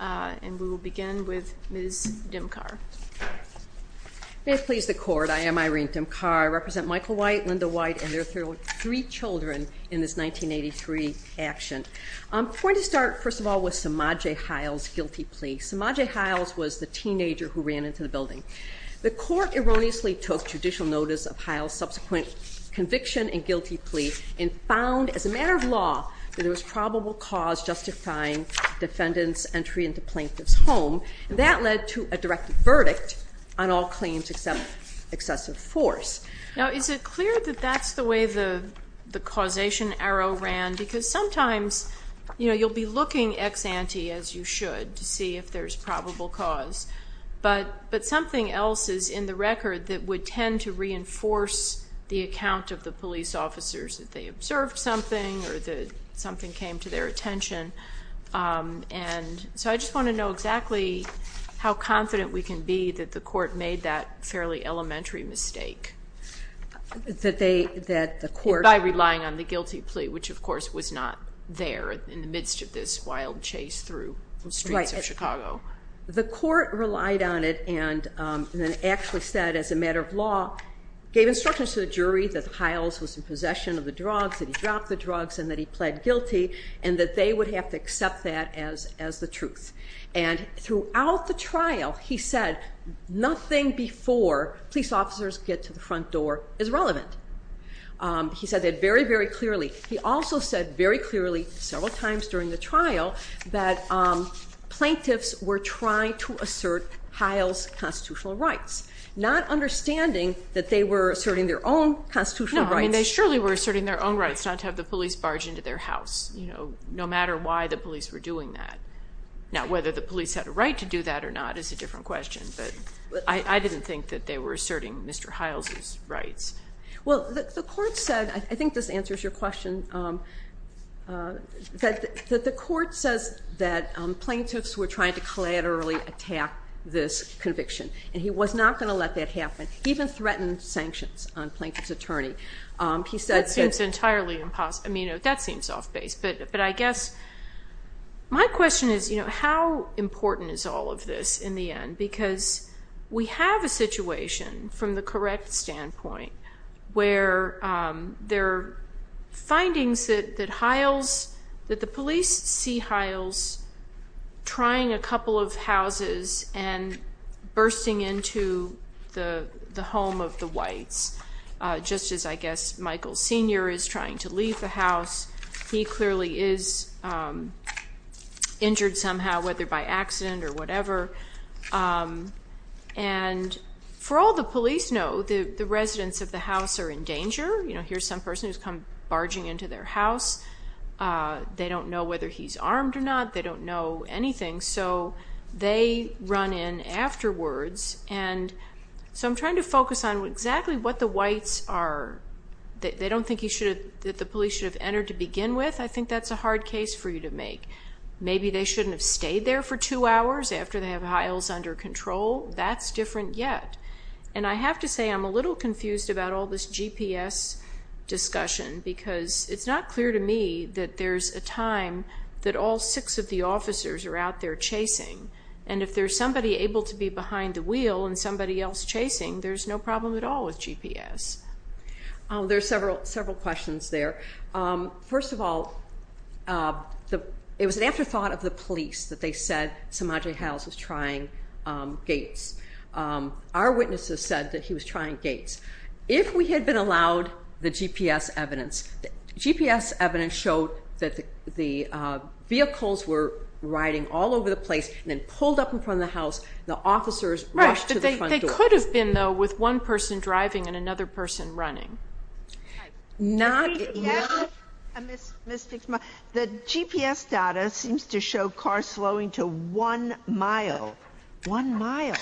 And we will begin with Ms. Dimkar. May it please the court, I am Irene Dimkar. I represent Michael White, Linda White, and their three children in this 1983 action. I'm going to start, first of all, with Samadji Haile's guilty plea. Samadji Haile was the teenager who ran into the building. The court erroneously took judicial notice of Haile's subsequent conviction and guilty plea and found, as a matter of law, that there was probable cause justifying the defendant's entry into the plaintiff's home. That led to a direct verdict on all claims except excessive force. Now, is it clear that that's the way the causation arrow ran? Because sometimes, you know, you'll be looking ex ante, as you should, to see if there's probable cause. But something else is in the record that would tend to reinforce the account of the police officers, that they observed something or that something came to their attention. And so I just want to know exactly how confident we can be that the court made that fairly elementary mistake. By relying on the guilty plea, which, of course, was not there in the midst of this wild chase through the streets of Chicago. The court relied on it and then actually said, as a matter of law, gave instructions to the jury that Haile was in possession of the drugs, that he dropped the drugs, and that he pled guilty, and that they would have to accept that as the truth. And throughout the trial, he said nothing before police officers get to the front door is relevant. He said that very, very clearly. He also said very clearly several times during the trial that plaintiffs were trying to assert Haile's constitutional rights, not understanding that they were asserting their own constitutional rights. No, I mean, they surely were asserting their own rights not to have the police barge into their house, you know, no matter why the police were doing that. Now, whether the police had a right to do that or not is a different question, but I didn't think that they were asserting Mr. Haile's rights. Well, the court said, I think this answers your question, that the court says that plaintiffs were trying to collaterally attack this conviction, and he was not going to let that happen. He even threatened sanctions on a plaintiff's attorney. That seems entirely impossible. I mean, that seems off base, but I guess my question is, you know, how important is all of this in the end? Because we have a situation from the correct standpoint where there are findings that Haile's, that the police see Haile's trying a couple of houses and bursting into the home of the whites, just as I guess Michael Sr. is trying to leave the house. He clearly is injured somehow, whether by accident or whatever. And for all the police know, the residents of the house are in danger. You know, here's some person who's come barging into their house. They don't know whether he's armed or not. They don't know anything. So they run in afterwards, and so I'm trying to focus on exactly what the whites are. They don't think that the police should have entered to begin with. I think that's a hard case for you to make. Maybe they shouldn't have stayed there for two hours after they have Haile's under control. That's different yet. And I have to say I'm a little confused about all this GPS discussion because it's not clear to me that there's a time that all six of the officers are out there chasing. And if there's somebody able to be behind the wheel and somebody else chasing, there's no problem at all with GPS. There are several questions there. First of all, it was an afterthought of the police that they said Samadji Hailes was trying gates. Our witnesses said that he was trying gates. If we had been allowed the GPS evidence, GPS evidence showed that the vehicles were riding all over the place and then pulled up in front of the house, the officers rushed to the front door. But they could have been, though, with one person driving and another person running. The GPS data seems to show cars slowing to one mile, one mile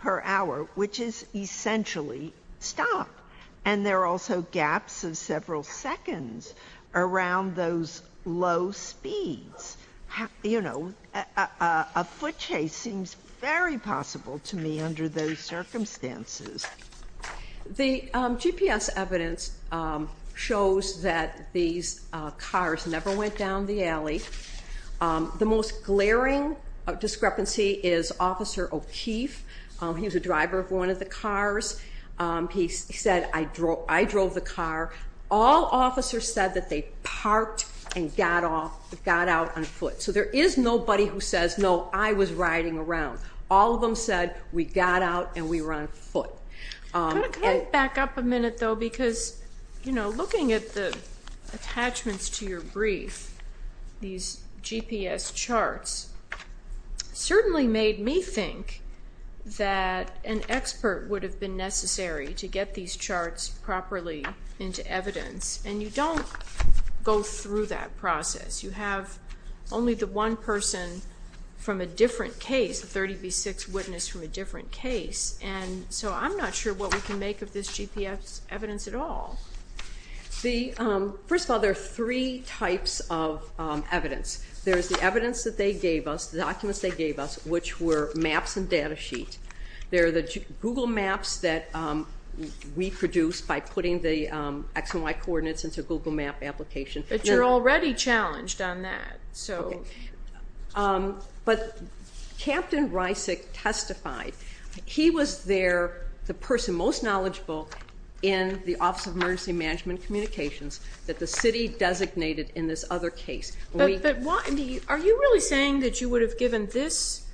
per hour, which is essentially stop. And there are also gaps of several seconds around those low speeds. You know, a foot chase seems very possible to me under those circumstances. The GPS evidence shows that these cars never went down the alley. The most glaring discrepancy is Officer O'Keefe. He was a driver of one of the cars. He said, I drove the car. All officers said that they parked and got out on foot. So there is nobody who says, no, I was riding around. All of them said, we got out and we were on foot. Can I back up a minute, though, because, you know, looking at the attachments to your brief, these GPS charts certainly made me think that an expert would have been necessary to get these charts properly into evidence. And you don't go through that process. You have only the one person from a different case, the 30B6 witness from a different case. And so I'm not sure what we can make of this GPS evidence at all. First of all, there are three types of evidence. There is the evidence that they gave us, the documents they gave us, which were maps and data sheet. There are the Google Maps that we produced by putting the X and Y coordinates into a Google Map application. But you're already challenged on that. Okay. But Captain Reisig testified. He was there, the person most knowledgeable in the Office of Emergency Management Communications, that the city designated in this other case. Are you really saying that you would have given this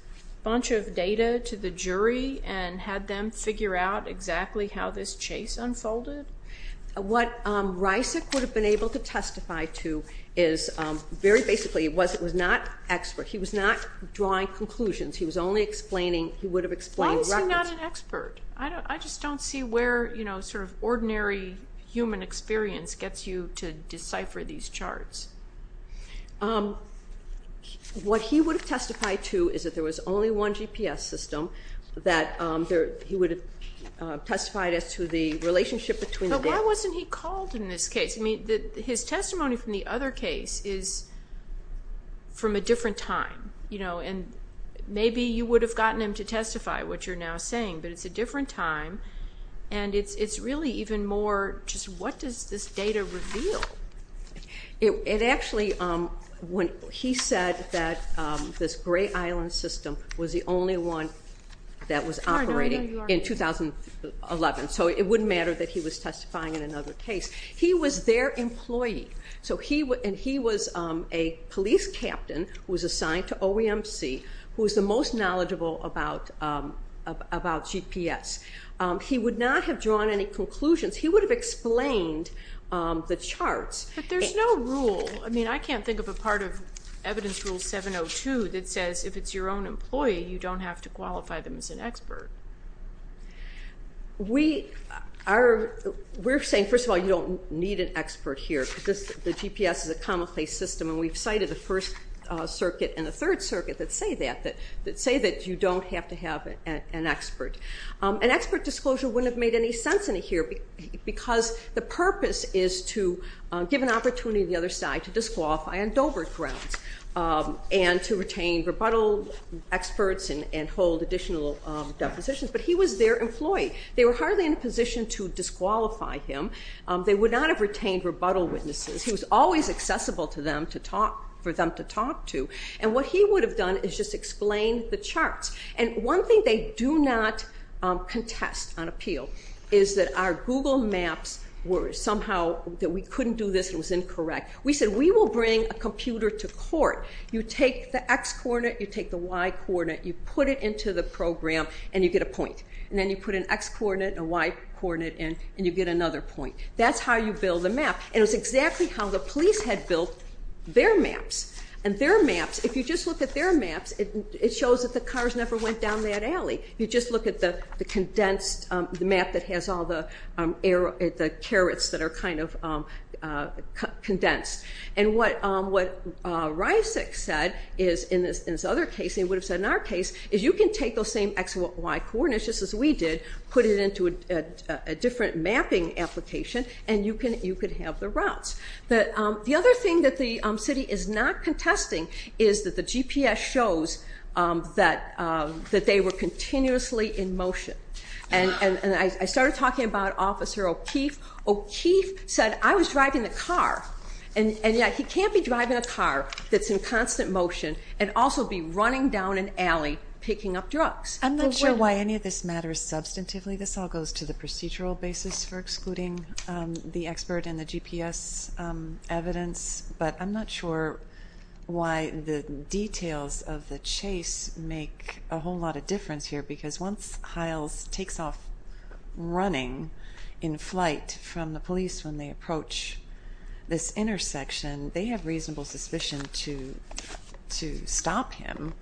bunch of data to the jury and had them figure out exactly how this chase unfolded? What Reisig would have been able to testify to is very basically it was not expert. He was not drawing conclusions. He was only explaining, he would have explained records. Why was he not an expert? I just don't see where sort of ordinary human experience gets you to decipher these charts. What he would have testified to is that there was only one GPS system, that he would have testified as to the relationship between the data. But why wasn't he called in this case? I mean, his testimony from the other case is from a different time. Maybe you would have gotten him to testify, which you're now saying, but it's a different time. And it's really even more just what does this data reveal? It actually, he said that this Gray Island system was the only one that was operating in 2011. So it wouldn't matter that he was testifying in another case. He was their employee. And he was a police captain who was assigned to OEMC, who was the most knowledgeable about GPS. He would not have drawn any conclusions. He would have explained the charts. But there's no rule. I mean, I can't think of a part of Evidence Rule 702 that says if it's your own employee, you don't have to qualify them as an expert. We are saying, first of all, you don't need an expert here because the GPS is a commonplace system, and we've cited the First Circuit and the Third Circuit that say that, that say that you don't have to have an expert. An expert disclosure wouldn't have made any sense in here, because the purpose is to give an opportunity to the other side to disqualify on Dover grounds and to retain rebuttal experts and hold additional depositions. But he was their employee. They were hardly in a position to disqualify him. They would not have retained rebuttal witnesses. He was always accessible to them to talk, for them to talk to. And what he would have done is just explained the charts. And one thing they do not contest on appeal is that our Google Maps were somehow, that we couldn't do this, it was incorrect. We said, we will bring a computer to court. You take the x-coordinate, you take the y-coordinate, you put it into the program, and you get a point. And then you put an x-coordinate and a y-coordinate in, and you get another point. That's how you build a map. And it was exactly how the police had built their maps. And their maps, if you just look at their maps, it shows that the cars never went down that alley. You just look at the condensed map that has all the carrots that are kind of condensed. And what Ryasek said in this other case, and he would have said in our case, is you can take those same x and y-coordinates, just as we did, put it into a different mapping application, and you could have the routes. The other thing that the city is not contesting is that the GPS shows that they were continuously in motion. And I started talking about Officer O'Keefe. O'Keefe said, I was driving the car, and yet he can't be driving a car that's in constant motion and also be running down an alley picking up drugs. I'm not sure why any of this matters substantively. This all goes to the procedural basis for excluding the expert in the GPS evidence, but I'm not sure why the details of the chase make a whole lot of difference here, because once Hiles takes off running in flight from the police when they approach this intersection, they have reasonable suspicion to stop him.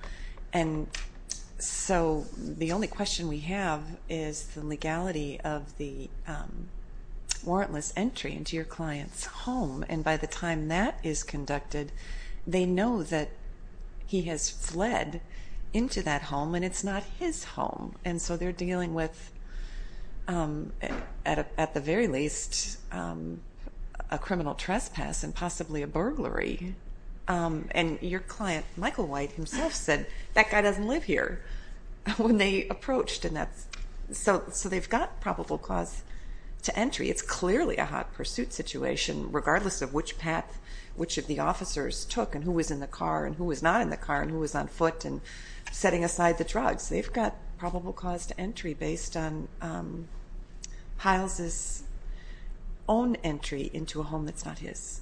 And so the only question we have is the legality of the warrantless entry into your client's home. And by the time that is conducted, they know that he has fled into that home, and it's not his home. And so they're dealing with, at the very least, a criminal trespass and possibly a burglary. And your client, Michael White, himself said, that guy doesn't live here, when they approached. So they've got probable cause to entry. It's clearly a hot pursuit situation, regardless of which path which of the officers took and who was in the car and who was not in the car and who was on foot and setting aside the drugs. They've got probable cause to entry based on Hiles' own entry into a home that's not his.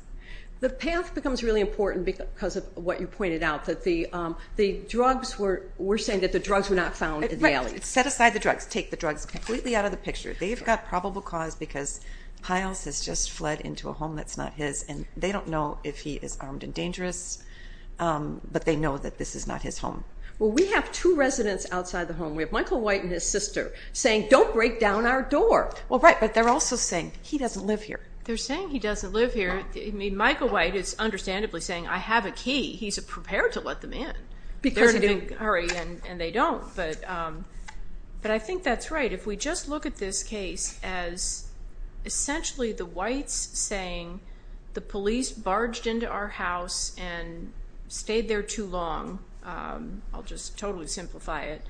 The path becomes really important because of what you pointed out, that the drugs were saying that the drugs were not found in the alley. Right. Set aside the drugs. Take the drugs completely out of the picture. They've got probable cause because Hiles has just fled into a home that's not his, and they don't know if he is armed and dangerous, but they know that this is not his home. Well, we have two residents outside the home. We have Michael White and his sister saying, don't break down our door. Well, right, but they're also saying, he doesn't live here. They're saying he doesn't live here. I mean, Michael White is understandably saying, I have a key. He's prepared to let them in if there's any hurry, and they don't. But I think that's right. If we just look at this case as essentially the whites saying the police barged into our house and stayed there too long, I'll just totally simplify it,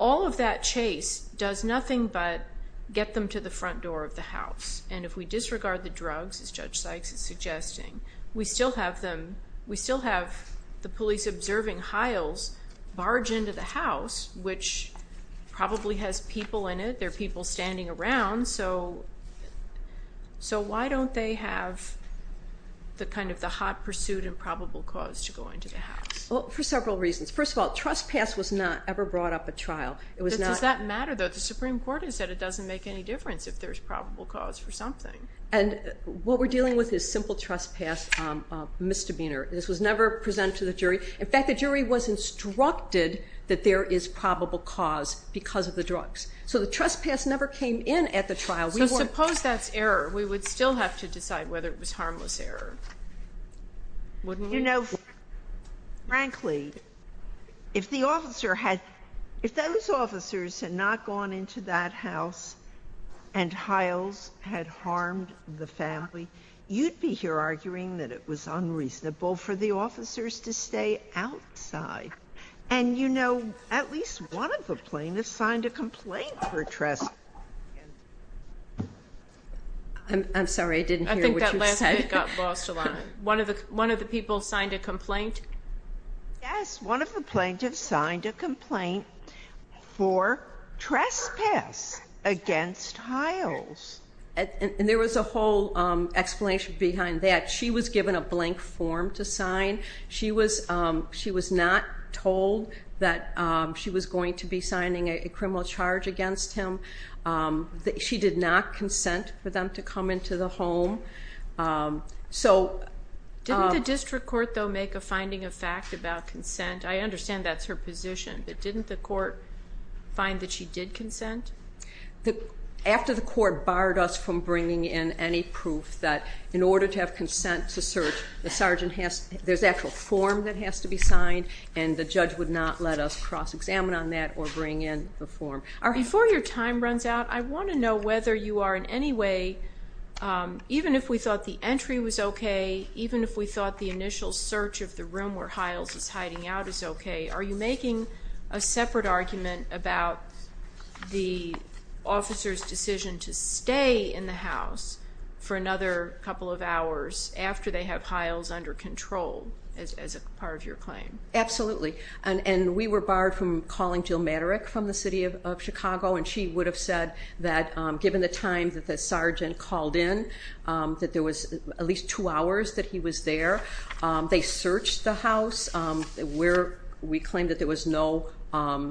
all of that chase does nothing but get them to the front door of the house. And if we disregard the drugs, as Judge Sykes is suggesting, we still have the police observing Hiles barge into the house, which probably has people in it. There are people standing around. So why don't they have the kind of the hot pursuit and probable cause to go into the house? Well, for several reasons. First of all, trespass was not ever brought up at trial. Does that matter, though? But the Supreme Court has said it doesn't make any difference if there's probable cause for something. And what we're dealing with is simple trespass misdemeanor. This was never presented to the jury. In fact, the jury was instructed that there is probable cause because of the drugs. So the trespass never came in at the trial. So suppose that's error. We would still have to decide whether it was harmless error, wouldn't we? You know, frankly, if those officers had not gone into that house and Hiles had harmed the family, you'd be here arguing that it was unreasonable for the officers to stay outside. And, you know, at least one of the plaintiffs signed a complaint for trespassing. I'm sorry, I didn't hear what you said. One of the people signed a complaint? Yes, one of the plaintiffs signed a complaint for trespass against Hiles. And there was a whole explanation behind that. She was given a blank form to sign. She was not told that she was going to be signing a criminal charge against him. She did not consent for them to come into the home. Didn't the district court, though, make a finding of fact about consent? I understand that's her position, but didn't the court find that she did consent? After the court barred us from bringing in any proof that in order to have consent to search, there's an actual form that has to be signed, and the judge would not let us cross-examine on that or bring in the form. Before your time runs out, I want to know whether you are in any way, even if we thought the entry was okay, even if we thought the initial search of the room where Hiles is hiding out is okay, are you making a separate argument about the officer's decision to stay in the house for another couple of hours after they have Hiles under control as part of your claim? Absolutely. And we were barred from calling Jill Maderick from the city of Chicago, and she would have said that given the time that the sergeant called in, that there was at least two hours that he was there. They searched the house. We claimed that there was no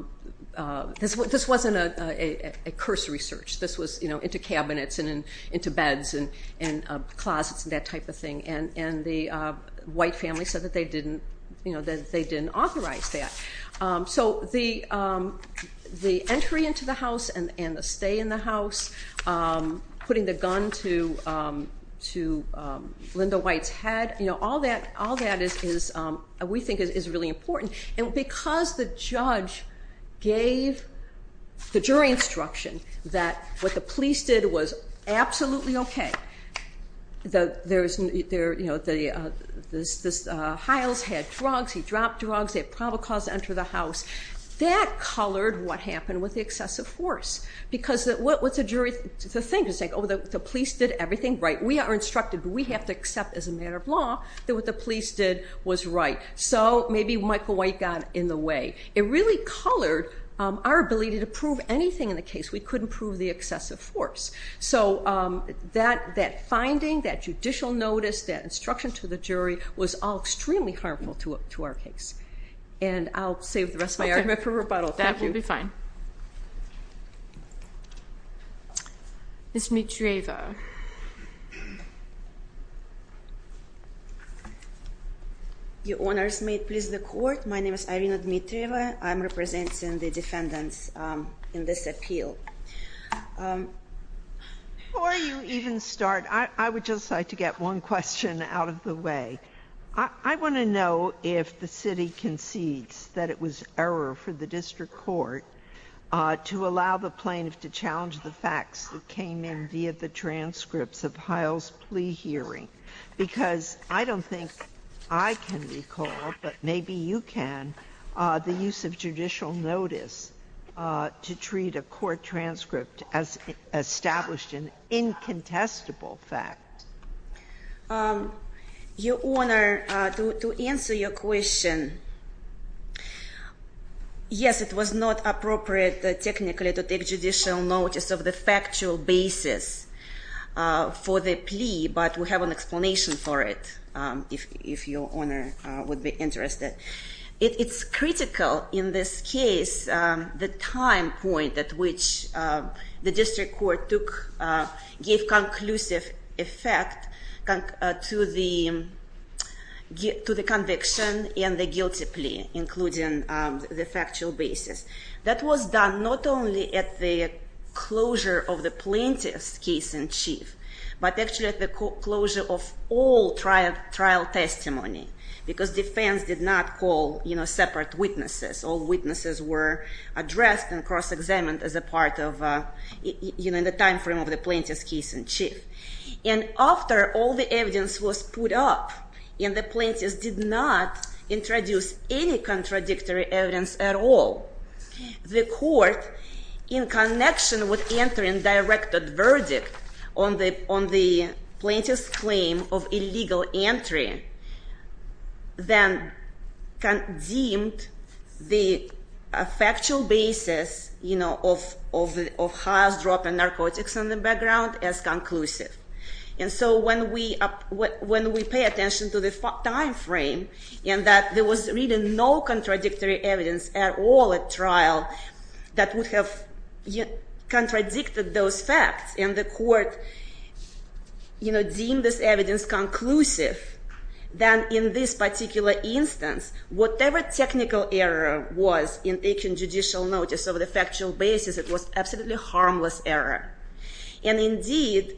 – this wasn't a cursory search. This was into cabinets and into beds and closets and that type of thing. And the White family said that they didn't authorize that. So the entry into the house and the stay in the house, putting the gun to Linda White's head, all that we think is really important. And because the judge gave the jury instruction that what the police did was absolutely okay, that Hiles had drugs, he dropped drugs, they had probable cause to enter the house, that colored what happened with the excessive force. Because what the jury thinks is, oh, the police did everything right. We are instructed, but we have to accept as a matter of law that what the police did was right. So maybe Michael White got in the way. It really colored our ability to prove anything in the case. We couldn't prove the excessive force. So that finding, that judicial notice, that instruction to the jury, was all extremely harmful to our case. And I'll save the rest of my argument for rebuttal. That will be fine. Ms. Dmitrieva. Your Honors, may it please the Court, my name is Irina Dmitrieva. I'm representing the defendants in this appeal. Before you even start, I would just like to get one question out of the way. I want to know if the city concedes that it was error for the district court to allow the plaintiff to challenge the facts that came in via the transcripts of Hiles' plea hearing. Because I don't think I can recall, but maybe you can, the use of judicial notice to treat a court transcript as established an incontestable fact. Your Honor, to answer your question, yes, it was not appropriate technically to take judicial notice of the factual basis for the plea, but we have an explanation for it, if your Honor would be interested. It's critical in this case, the time point at which the district court gave conclusive effect to the conviction and the guilty plea, including the factual basis. That was done not only at the closure of the plaintiff's case in chief, but actually at the closure of all trial testimony, because defense did not call separate witnesses. All witnesses were addressed and cross-examined in the time frame of the plaintiff's case in chief. And after all the evidence was put up, and the plaintiff did not introduce any contradictory evidence at all, the court, in connection with entering directed verdict on the plaintiff's claim of illegal entry, then deemed the factual basis of Hiles dropping narcotics in the background as conclusive. And so when we pay attention to the time frame, and that there was really no contradictory evidence at all at trial that would have contradicted those facts, and the court deemed this evidence conclusive, then in this particular instance, whatever technical error was in taking judicial notice of the factual basis, it was absolutely harmless error. And indeed,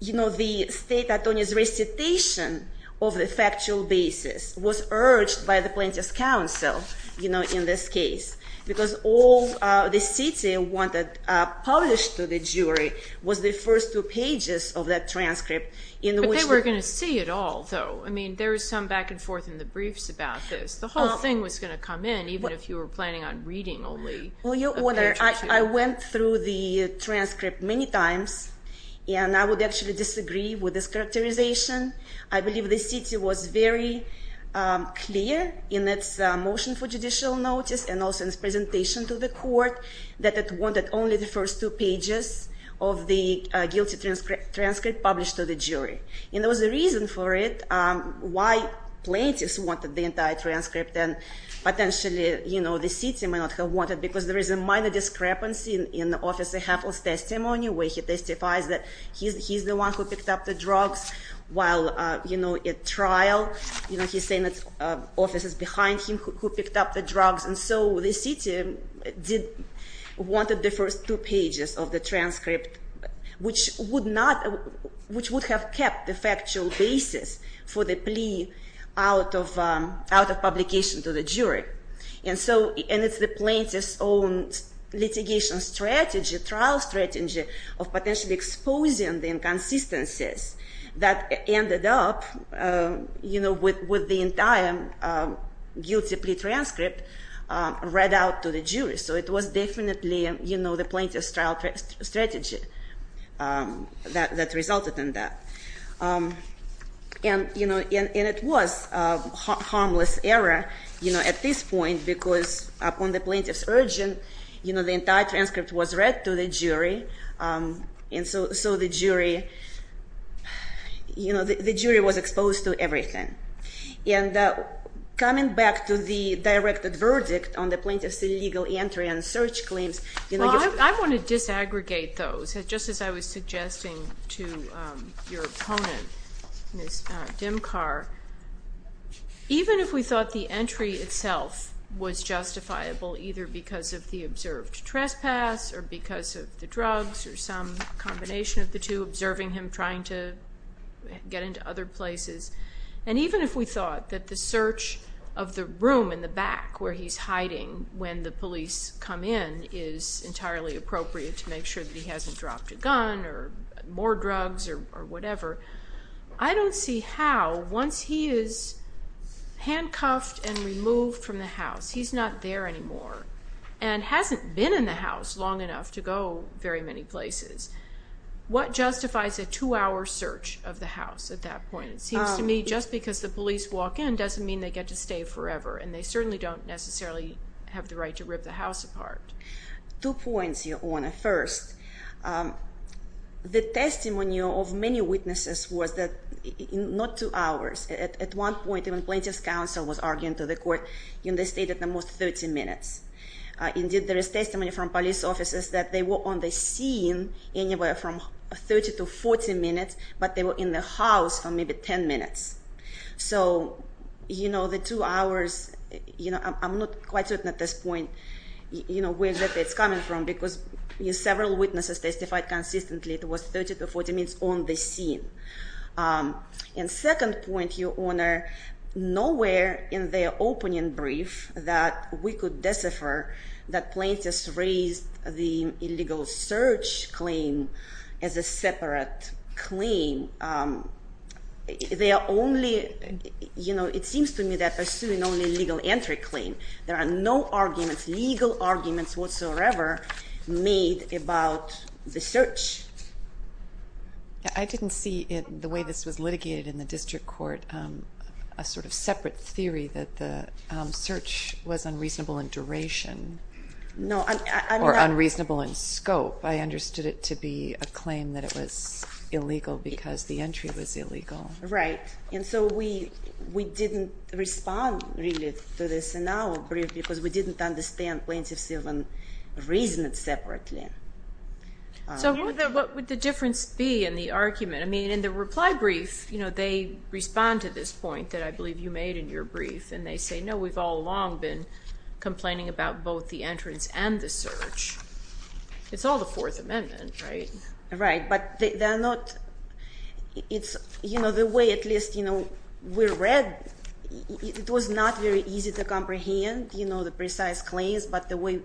you know, the state attorney's recitation of the factual basis was urged by the plaintiff's counsel, you know, in this case, because all the city wanted published to the jury was the first two pages of that transcript. But they were going to see it all, though. I mean, there was some back and forth in the briefs about this. The whole thing was going to come in, even if you were planning on reading only a page or two. Well, Your Honor, I went through the transcript many times, and I would actually disagree with this characterization. I believe the city was very clear in its motion for judicial notice and also in its presentation to the court that it wanted only the first two pages of the guilty transcript published to the jury. And there was a reason for it, why plaintiffs wanted the entire transcript, and potentially, you know, the city might not have wanted it, because there is a minor discrepancy in Officer Heffel's testimony, where he testifies that he's the one who picked up the drugs while, you know, at trial. You know, he's saying that officers behind him who picked up the drugs. And so the city wanted the first two pages of the transcript, which would have kept the factual basis for the plea out of publication to the jury. And it's the plaintiff's own litigation strategy, trial strategy, of potentially exposing the inconsistencies that ended up, you know, with the entire guilty plea transcript read out to the jury. So it was definitely, you know, the plaintiff's trial strategy that resulted in that. And, you know, and it was a harmless error, you know, at this point, because upon the plaintiff's urging, you know, the entire transcript was read to the jury. And so the jury, you know, the jury was exposed to everything. And coming back to the directed verdict on the plaintiff's illegal entry and search claims. Well, I want to disaggregate those. Just as I was suggesting to your opponent, Ms. Dimkar, even if we thought the entry itself was justifiable, either because of the observed trespass or because of the drugs or some combination of the two, observing him trying to get into other places, and even if we thought that the search of the room in the back where he's hiding when the police come in is entirely appropriate to make sure that he hasn't dropped a gun or more drugs or whatever, I don't see how, once he is handcuffed and removed from the house, he's not there anymore and hasn't been in the house long enough to go very many places. What justifies a two-hour search of the house at that point? It seems to me just because the police walk in doesn't mean they get to stay forever, and they certainly don't necessarily have the right to rip the house apart. Two points, Your Honor. First, the testimony of many witnesses was that not two hours. At one point, when plaintiff's counsel was arguing to the court, they stayed at the most 30 minutes. Indeed, there is testimony from police officers that they were on the scene anywhere from 30 to 40 minutes, but they were in the house for maybe 10 minutes. So the two hours, I'm not quite certain at this point where it's coming from because several witnesses testified consistently it was 30 to 40 minutes on the scene. And second point, Your Honor, nowhere in their opening brief that we could decipher that plaintiffs raised the illegal search claim as a separate claim. It seems to me they're pursuing only legal entry claim. There are no arguments, legal arguments whatsoever made about the search. I didn't see the way this was litigated in the district court a sort of separate theory that the search was unreasonable in duration or unreasonable in scope. I understood it to be a claim that it was illegal because the entry was illegal. Right. And so we didn't respond really to this in our brief because we didn't understand plaintiff's reason separately. So what would the difference be in the argument? I mean, in the reply brief, they respond to this point that I believe you made in your brief, and they say, no, we've all long been complaining about both the entrance and the search. It's all the Fourth Amendment, right? Right, but the way at least we read, it was not very easy to comprehend the precise claims, but the way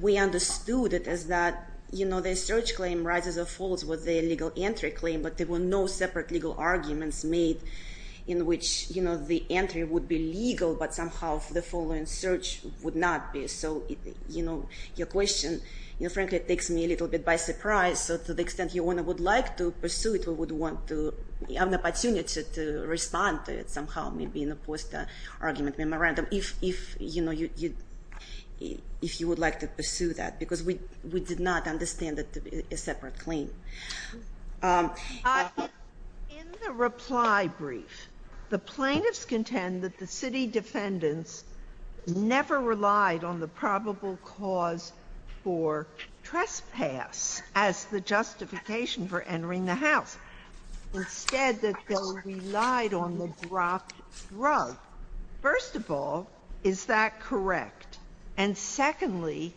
we understood it is that the search claim rises or falls with the illegal entry claim, but there were no separate legal arguments made in which the entry would be legal, but somehow the following search would not be. So your question, frankly, it takes me a little bit by surprise. So to the extent you would like to pursue it, we would want to have an opportunity to respond to it somehow, maybe in a post-argument memorandum, if you would like to pursue that, because we did not understand it to be a separate claim. In the reply brief, the plaintiffs contend that the city defendants never relied on the probable cause for trespass as the justification for entering the house, instead that they relied on the dropped drug. First of all, is that correct? And secondly,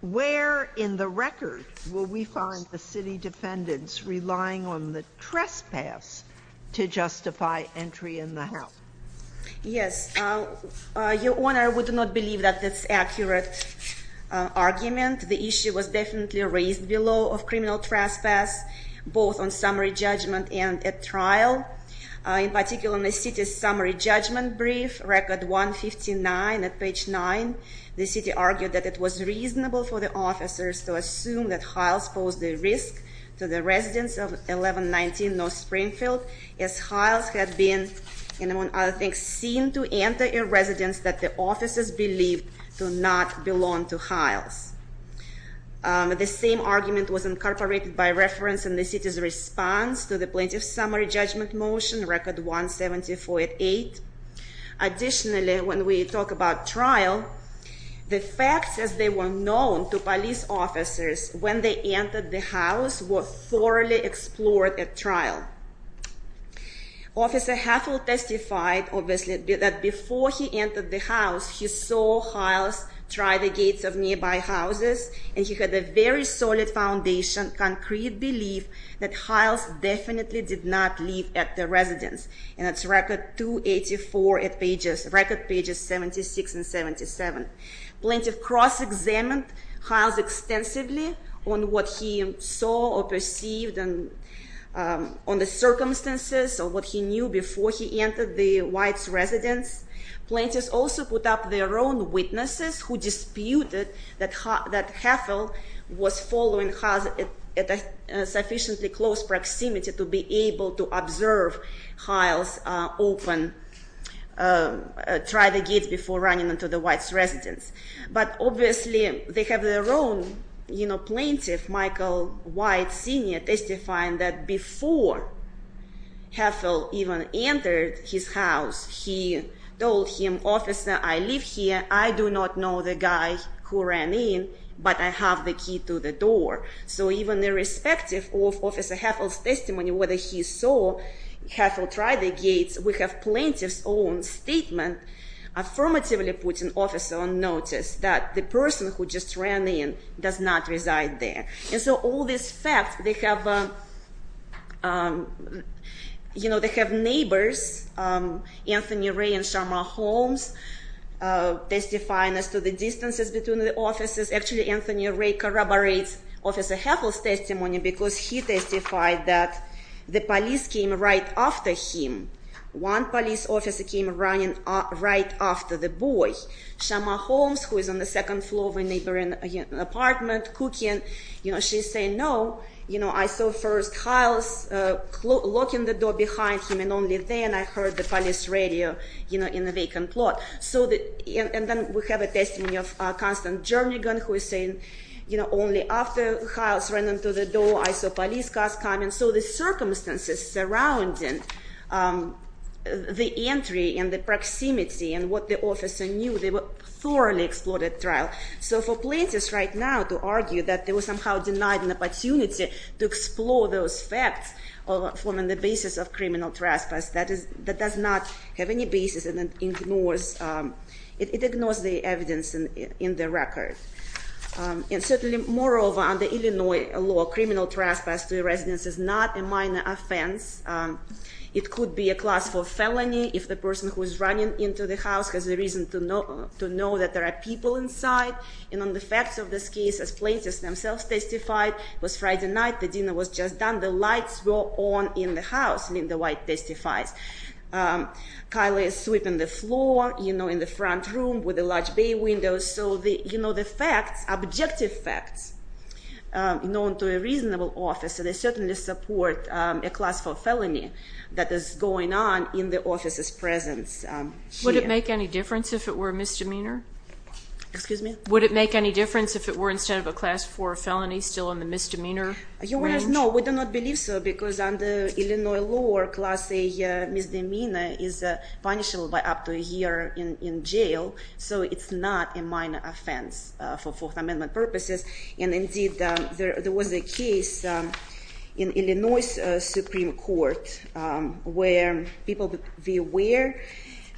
where in the record will we find the city defendants relying on the trespass to justify entry in the house? Yes. Your Honor, I would not believe that that's an accurate argument. The issue was definitely raised below of criminal trespass, both on summary judgment and at trial. In particular, in the city's summary judgment brief, record 159 at page 9, the city argued that it was reasonable for the officers to assume that Hiles posed a risk to the residents of 1119 North Springfield, as Hiles had been, among other things, seen to enter a residence that the officers believed do not belong to Hiles. The same argument was incorporated by reference in the city's response to the plaintiff's summary judgment motion, record 174 at 8. Additionally, when we talk about trial, the facts as they were known to police officers when they entered the house were thoroughly explored at trial. Officer Hethel testified, obviously, that before he entered the house, he saw Hiles try the gates of nearby houses, and he had a very solid foundation, concrete belief that Hiles definitely did not leave at the residence. And that's record 284 at pages, record pages 76 and 77. Plaintiff cross-examined Hiles extensively on what he saw or perceived and on the circumstances of what he knew before he entered the White's residence. Plaintiffs also put up their own witnesses who disputed that Hethel was following Hiles at a sufficiently close proximity to be able to observe Hiles open, try the gates before running into the White's residence. But obviously, they have their own plaintiff, Michael White Sr., testifying that before Hethel even entered his house, he told him, Officer, I live here. I do not know the guy who ran in, but I have the key to the door. So even irrespective of Officer Hethel's testimony, whether he saw Hethel try the gates, we have plaintiff's own statement affirmatively putting officer on notice that the person who just ran in does not You know, they have neighbors, Anthony Ray and Shama Holmes testifying as to the distances between the offices. Actually, Anthony Ray corroborates Officer Hethel's testimony because he testified that the police came right after him. One police officer came running right after the boy. Shama Holmes, who is on the second floor of a neighboring apartment, cooking, you know, she's saying, no, you know, I saw first Hiles locking the door behind him and only then I heard the police radio, you know, in the vacant lot. And then we have a testimony of Constance Jernigan who is saying, you know, only after Hiles ran into the door, I saw police cars coming. So the circumstances surrounding the entry and the proximity and what the officer knew, they were thoroughly explored at trial. So for plaintiffs right now to argue that they were somehow denied an opportunity to explore those facts on the basis of criminal trespass, that does not have any basis and ignores the evidence in the record. And certainly, moreover, under Illinois law, criminal trespass to a residence is not a minor offense. It could be a class 4 felony if the person who is running into the house has a reason to know that there are people inside. And on the facts of this case, as plaintiffs themselves testified, it was Friday night, the dinner was just done, the lights were on in the house, Linda White testifies. Kylie is sweeping the floor, you know, in the front room with a large bay window. So, you know, the facts, objective facts known to a reasonable officer, they certainly support a class 4 felony that is going on in the officer's presence here. Would it make any difference if it were a misdemeanor? Excuse me? Would it make any difference if it were instead of a class 4 felony still in the misdemeanor range? Your Honor, no, we do not believe so because under Illinois law, a class A misdemeanor is punishable by up to a year in jail. And indeed, there was a case in Illinois Supreme Court where people be aware,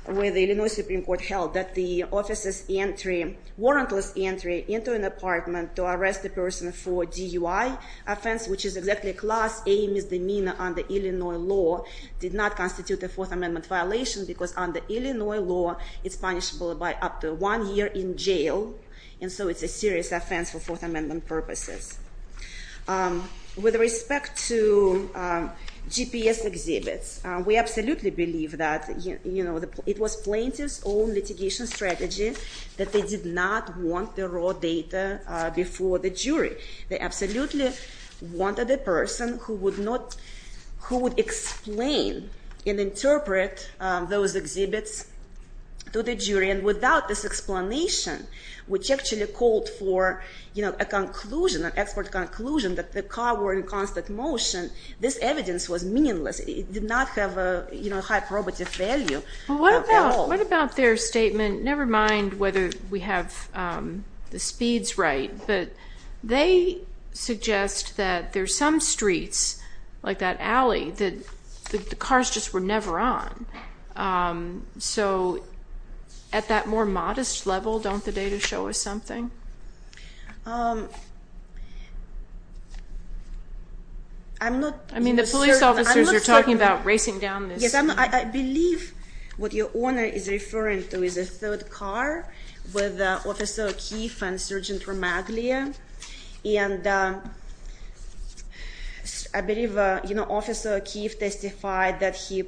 where the Illinois Supreme Court held that the officer's entry, warrantless entry into an apartment to arrest the person for DUI offense, which is exactly a class A misdemeanor under Illinois law, did not constitute a Fourth Amendment violation because under Illinois law it's punishable by up to one year in jail. And so it's a serious offense for Fourth Amendment purposes. With respect to GPS exhibits, we absolutely believe that it was plaintiff's own litigation strategy that they did not want the raw data before the jury. They absolutely wanted a person who would explain and interpret those exhibits to the jury. And without this explanation, which actually called for a conclusion, an expert conclusion that the car were in constant motion, this evidence was meaningless. It did not have a high probative value at all. What about their statement, never mind whether we have the speeds right, but they suggest that there's some streets, like that alley, that the cars just were never on. So at that more modest level, don't the data show us something? I mean the police officers are talking about racing down this. I believe what your owner is referring to is a third car with Officer Keefe and Sergeant Ramaglia. And I believe Officer Keefe testified that he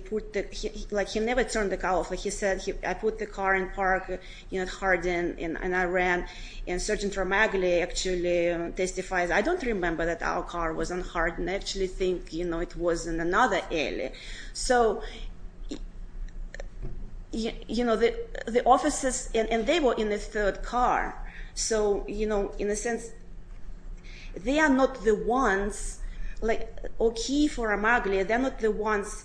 never turned the car off. He said, I put the car in park, it hardened and I ran. And Sergeant Ramaglia actually testifies, I don't remember that our car was unhardened. I actually think it was in another alley. So, you know, the officers, and they were in the third car. So, you know, in a sense, they are not the ones, like O'Keefe or Ramaglia, they are not the ones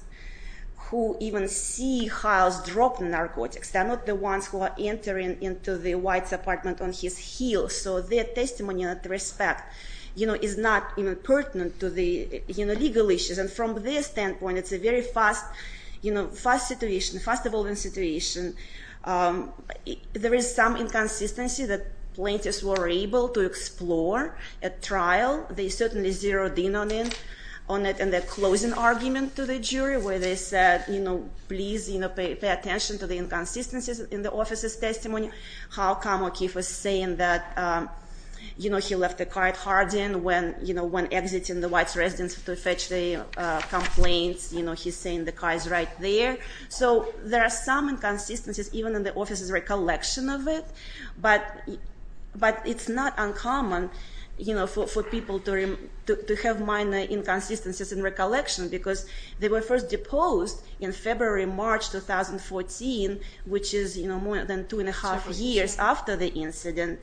who even see Hiles drop the narcotics. They are not the ones who are entering into the White's apartment on his heels. So their testimony and respect is not even pertinent to the legal issues. And from their standpoint, it's a very fast situation, fast evolving situation. There is some inconsistency that plaintiffs were able to explore at trial. They certainly zeroed in on it in their closing argument to the jury where they said, please pay attention to the inconsistencies in the officers testimony. How come O'Keefe was saying that he left the car hardened when exiting the White's residence to fetch the complaints. He's saying the car is right there. So there are some inconsistencies even in the officers recollection of it. But it's not uncommon for people to have minor inconsistencies in recollection because they were first deposed in February, March 2014, which is more than two and a half years after the incident.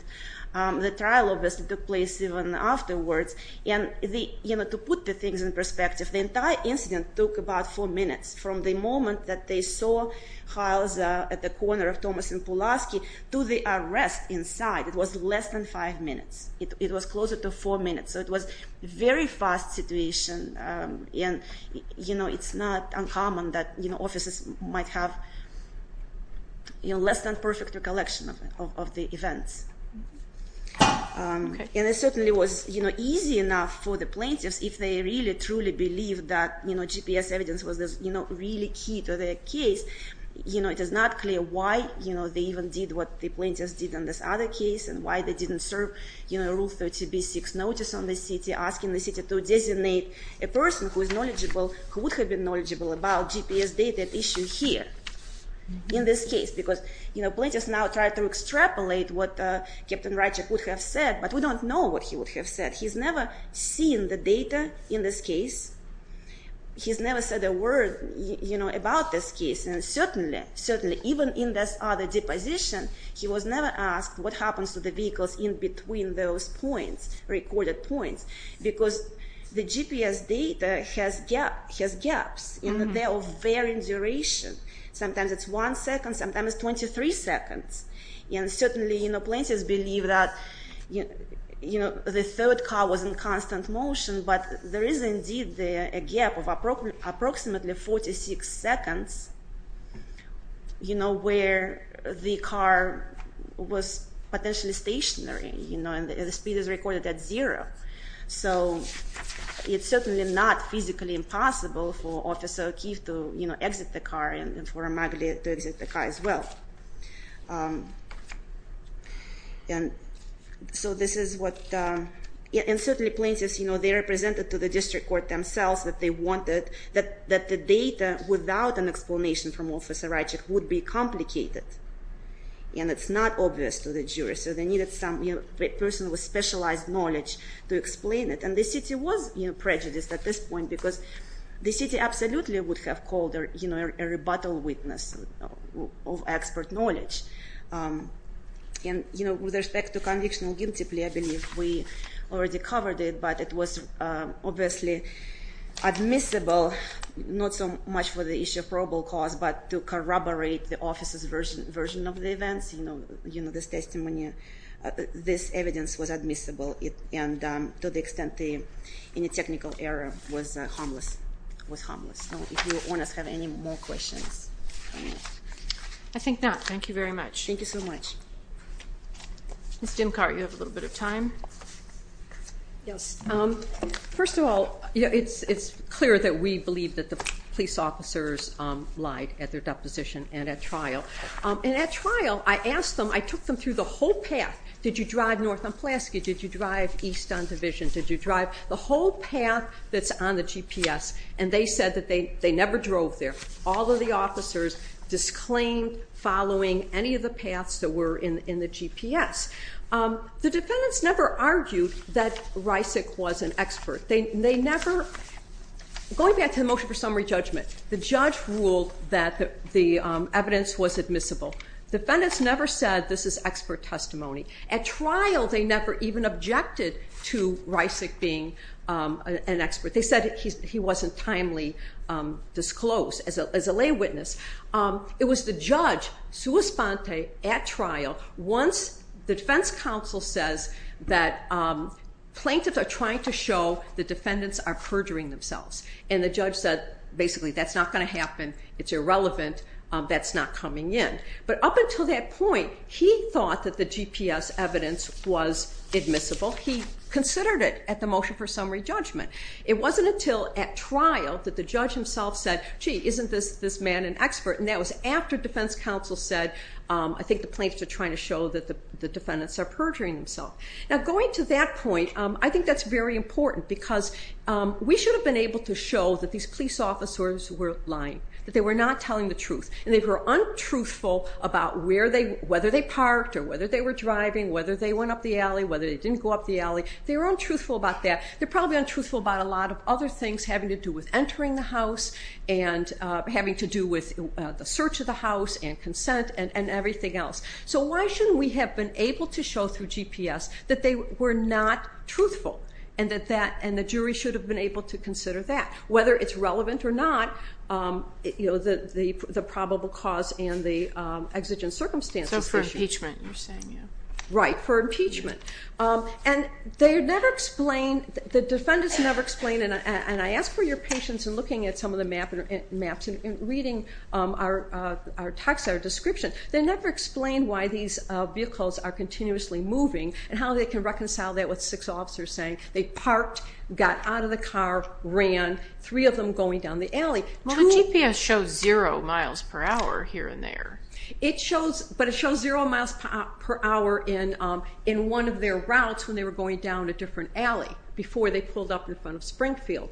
The trial took place even afterwards. And to put the things in perspective, the entire incident took about four minutes from the moment that they saw Hiles at the corner of Thomas and Pulaski to the arrest inside. It was less than five minutes. It was closer to four minutes. So it was a very fast situation. It's not uncommon that officers might have less than perfect recollection of the events. And it certainly was easy enough for the plaintiffs if they really truly believed that GPS evidence was really key to their case. It is not clear why they even did what the plaintiffs did in this other case and why they didn't serve Rule 30b-6 notice on the city, asking the city to designate a person who would have been knowledgeable about GPS data at issue here in this case. Because plaintiffs now try to extrapolate what Captain Reichert would have said. But we don't know what he would have said. He's never seen the data in this case. He's never said a word about this case. And certainly, even in this other deposition, he was never asked what happens to the vehicles in between those points, recorded points, because the GPS data has gaps in there of varying duration. Sometimes it's one second, sometimes it's 23 seconds. And certainly, plaintiffs believe that the third car was in constant motion, but there is indeed a gap of approximately 46 seconds where the car was potentially stationary and the speed is recorded at zero. So it's certainly not physically impossible for Officer O'Keefe to exit the car and for Magalie to exit the car as well. And so this is what, and certainly plaintiffs, they are presented to the district court themselves that they wanted, that the data without an explanation from Officer Reichert would be complicated. And it's not obvious to the jurors, so they needed some person with specialized knowledge to explain it. And the city was prejudiced at this point because the city absolutely would have called a rebuttal witness of expert knowledge. And with respect to convictional guilty plea, I believe we already covered it, but it was obviously admissible, not so much for the issue of probable cause, but to corroborate the officer's version of the events, this testimony, this evidence was admissible and to the extent any technical error was harmless. So if your owners have any more questions. I think not. Thank you very much. Thank you so much. Ms. Dimkart, you have a little bit of time. Yes. First of all, it's clear that we believe that the police officers lied at their deposition and at trial. And at trial, I asked them, I took them through the whole path. Did you drive north on Pulaski? Did you drive east on Division? Did you drive the whole path that's on the GPS? And they said that they never drove there. All of the officers disclaimed following any of the paths that were in the GPS. The defendants never argued that Reisig was an expert. They never Going back to the motion for summary judgment, the judge ruled that the evidence was admissible. Defendants never said this is expert testimony. At trial they never even objected to Reisig being an expert. They said he wasn't timely disclosed as a lay witness. It was the judge, sua sponte, at trial, once the defense counsel says that plaintiffs are trying to show the defendants are perjuring themselves. And the judge said, basically, that's not going to happen. It's irrelevant. That's not coming in. But up until that point, he thought that the GPS evidence was admissible. He considered it at the motion for summary judgment. It wasn't until at trial that the judge himself said, gee, isn't this man an expert? And that was after defense counsel said, I think the plaintiffs are trying to show that the defendants are perjuring themselves. Now going to that point, I think that's very important because we should have been able to show that these police officers were lying. That they were not telling the truth. And they were untruthful about whether they parked or whether they were driving, whether they went up the alley, whether they didn't go up the alley. They were untruthful about that. They're probably untruthful about a lot of other things having to do with entering the house and having to do with the search of the house and consent and everything else. So why shouldn't we have been able to show through GPS that they were not truthful? And the jury should have been able to consider that. Whether it's relevant or not, the probable cause and the exigent circumstances. So for impeachment, you're saying. Right, for impeachment. And they never explain, the defendants never explain, and I ask for your patience in looking at some of the maps and reading our description. They never explain why these vehicles are continuously moving and how they can reconcile that with six officers saying they parked, got out of the car, ran, three of them going down the alley. Well the GPS shows zero miles per hour here and there. But it shows zero miles per hour in one of their routes when they were going down a different alley before they pulled up in front of Springfield.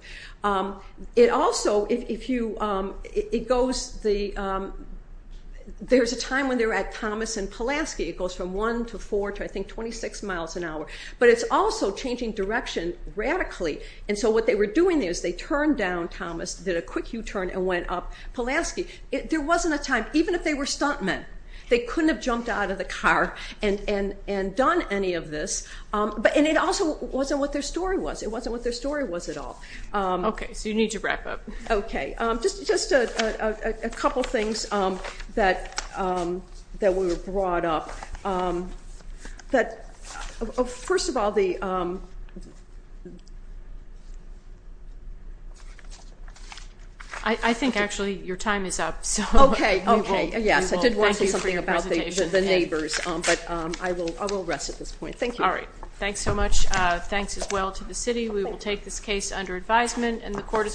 It also, if you, it goes, there's a time when they were at Thomas and Pulaski. It goes from 1 to 4 to I think 26 miles an hour. But it's also changing direction radically. And so what they were doing is they turned down assentment. They couldn't have jumped out of the car and done any of this. And it also wasn't what their story was. It wasn't what their story was at all. Okay, so you need to wrap up. Okay, just a couple things that we were brought up. First of all, the I think actually your time is up. Okay, yes, I did want to say something about the neighbors. But I will rest at this point. Thank you. Alright, thanks so much. Thanks as well to the city. We will take this case under advisement and the court is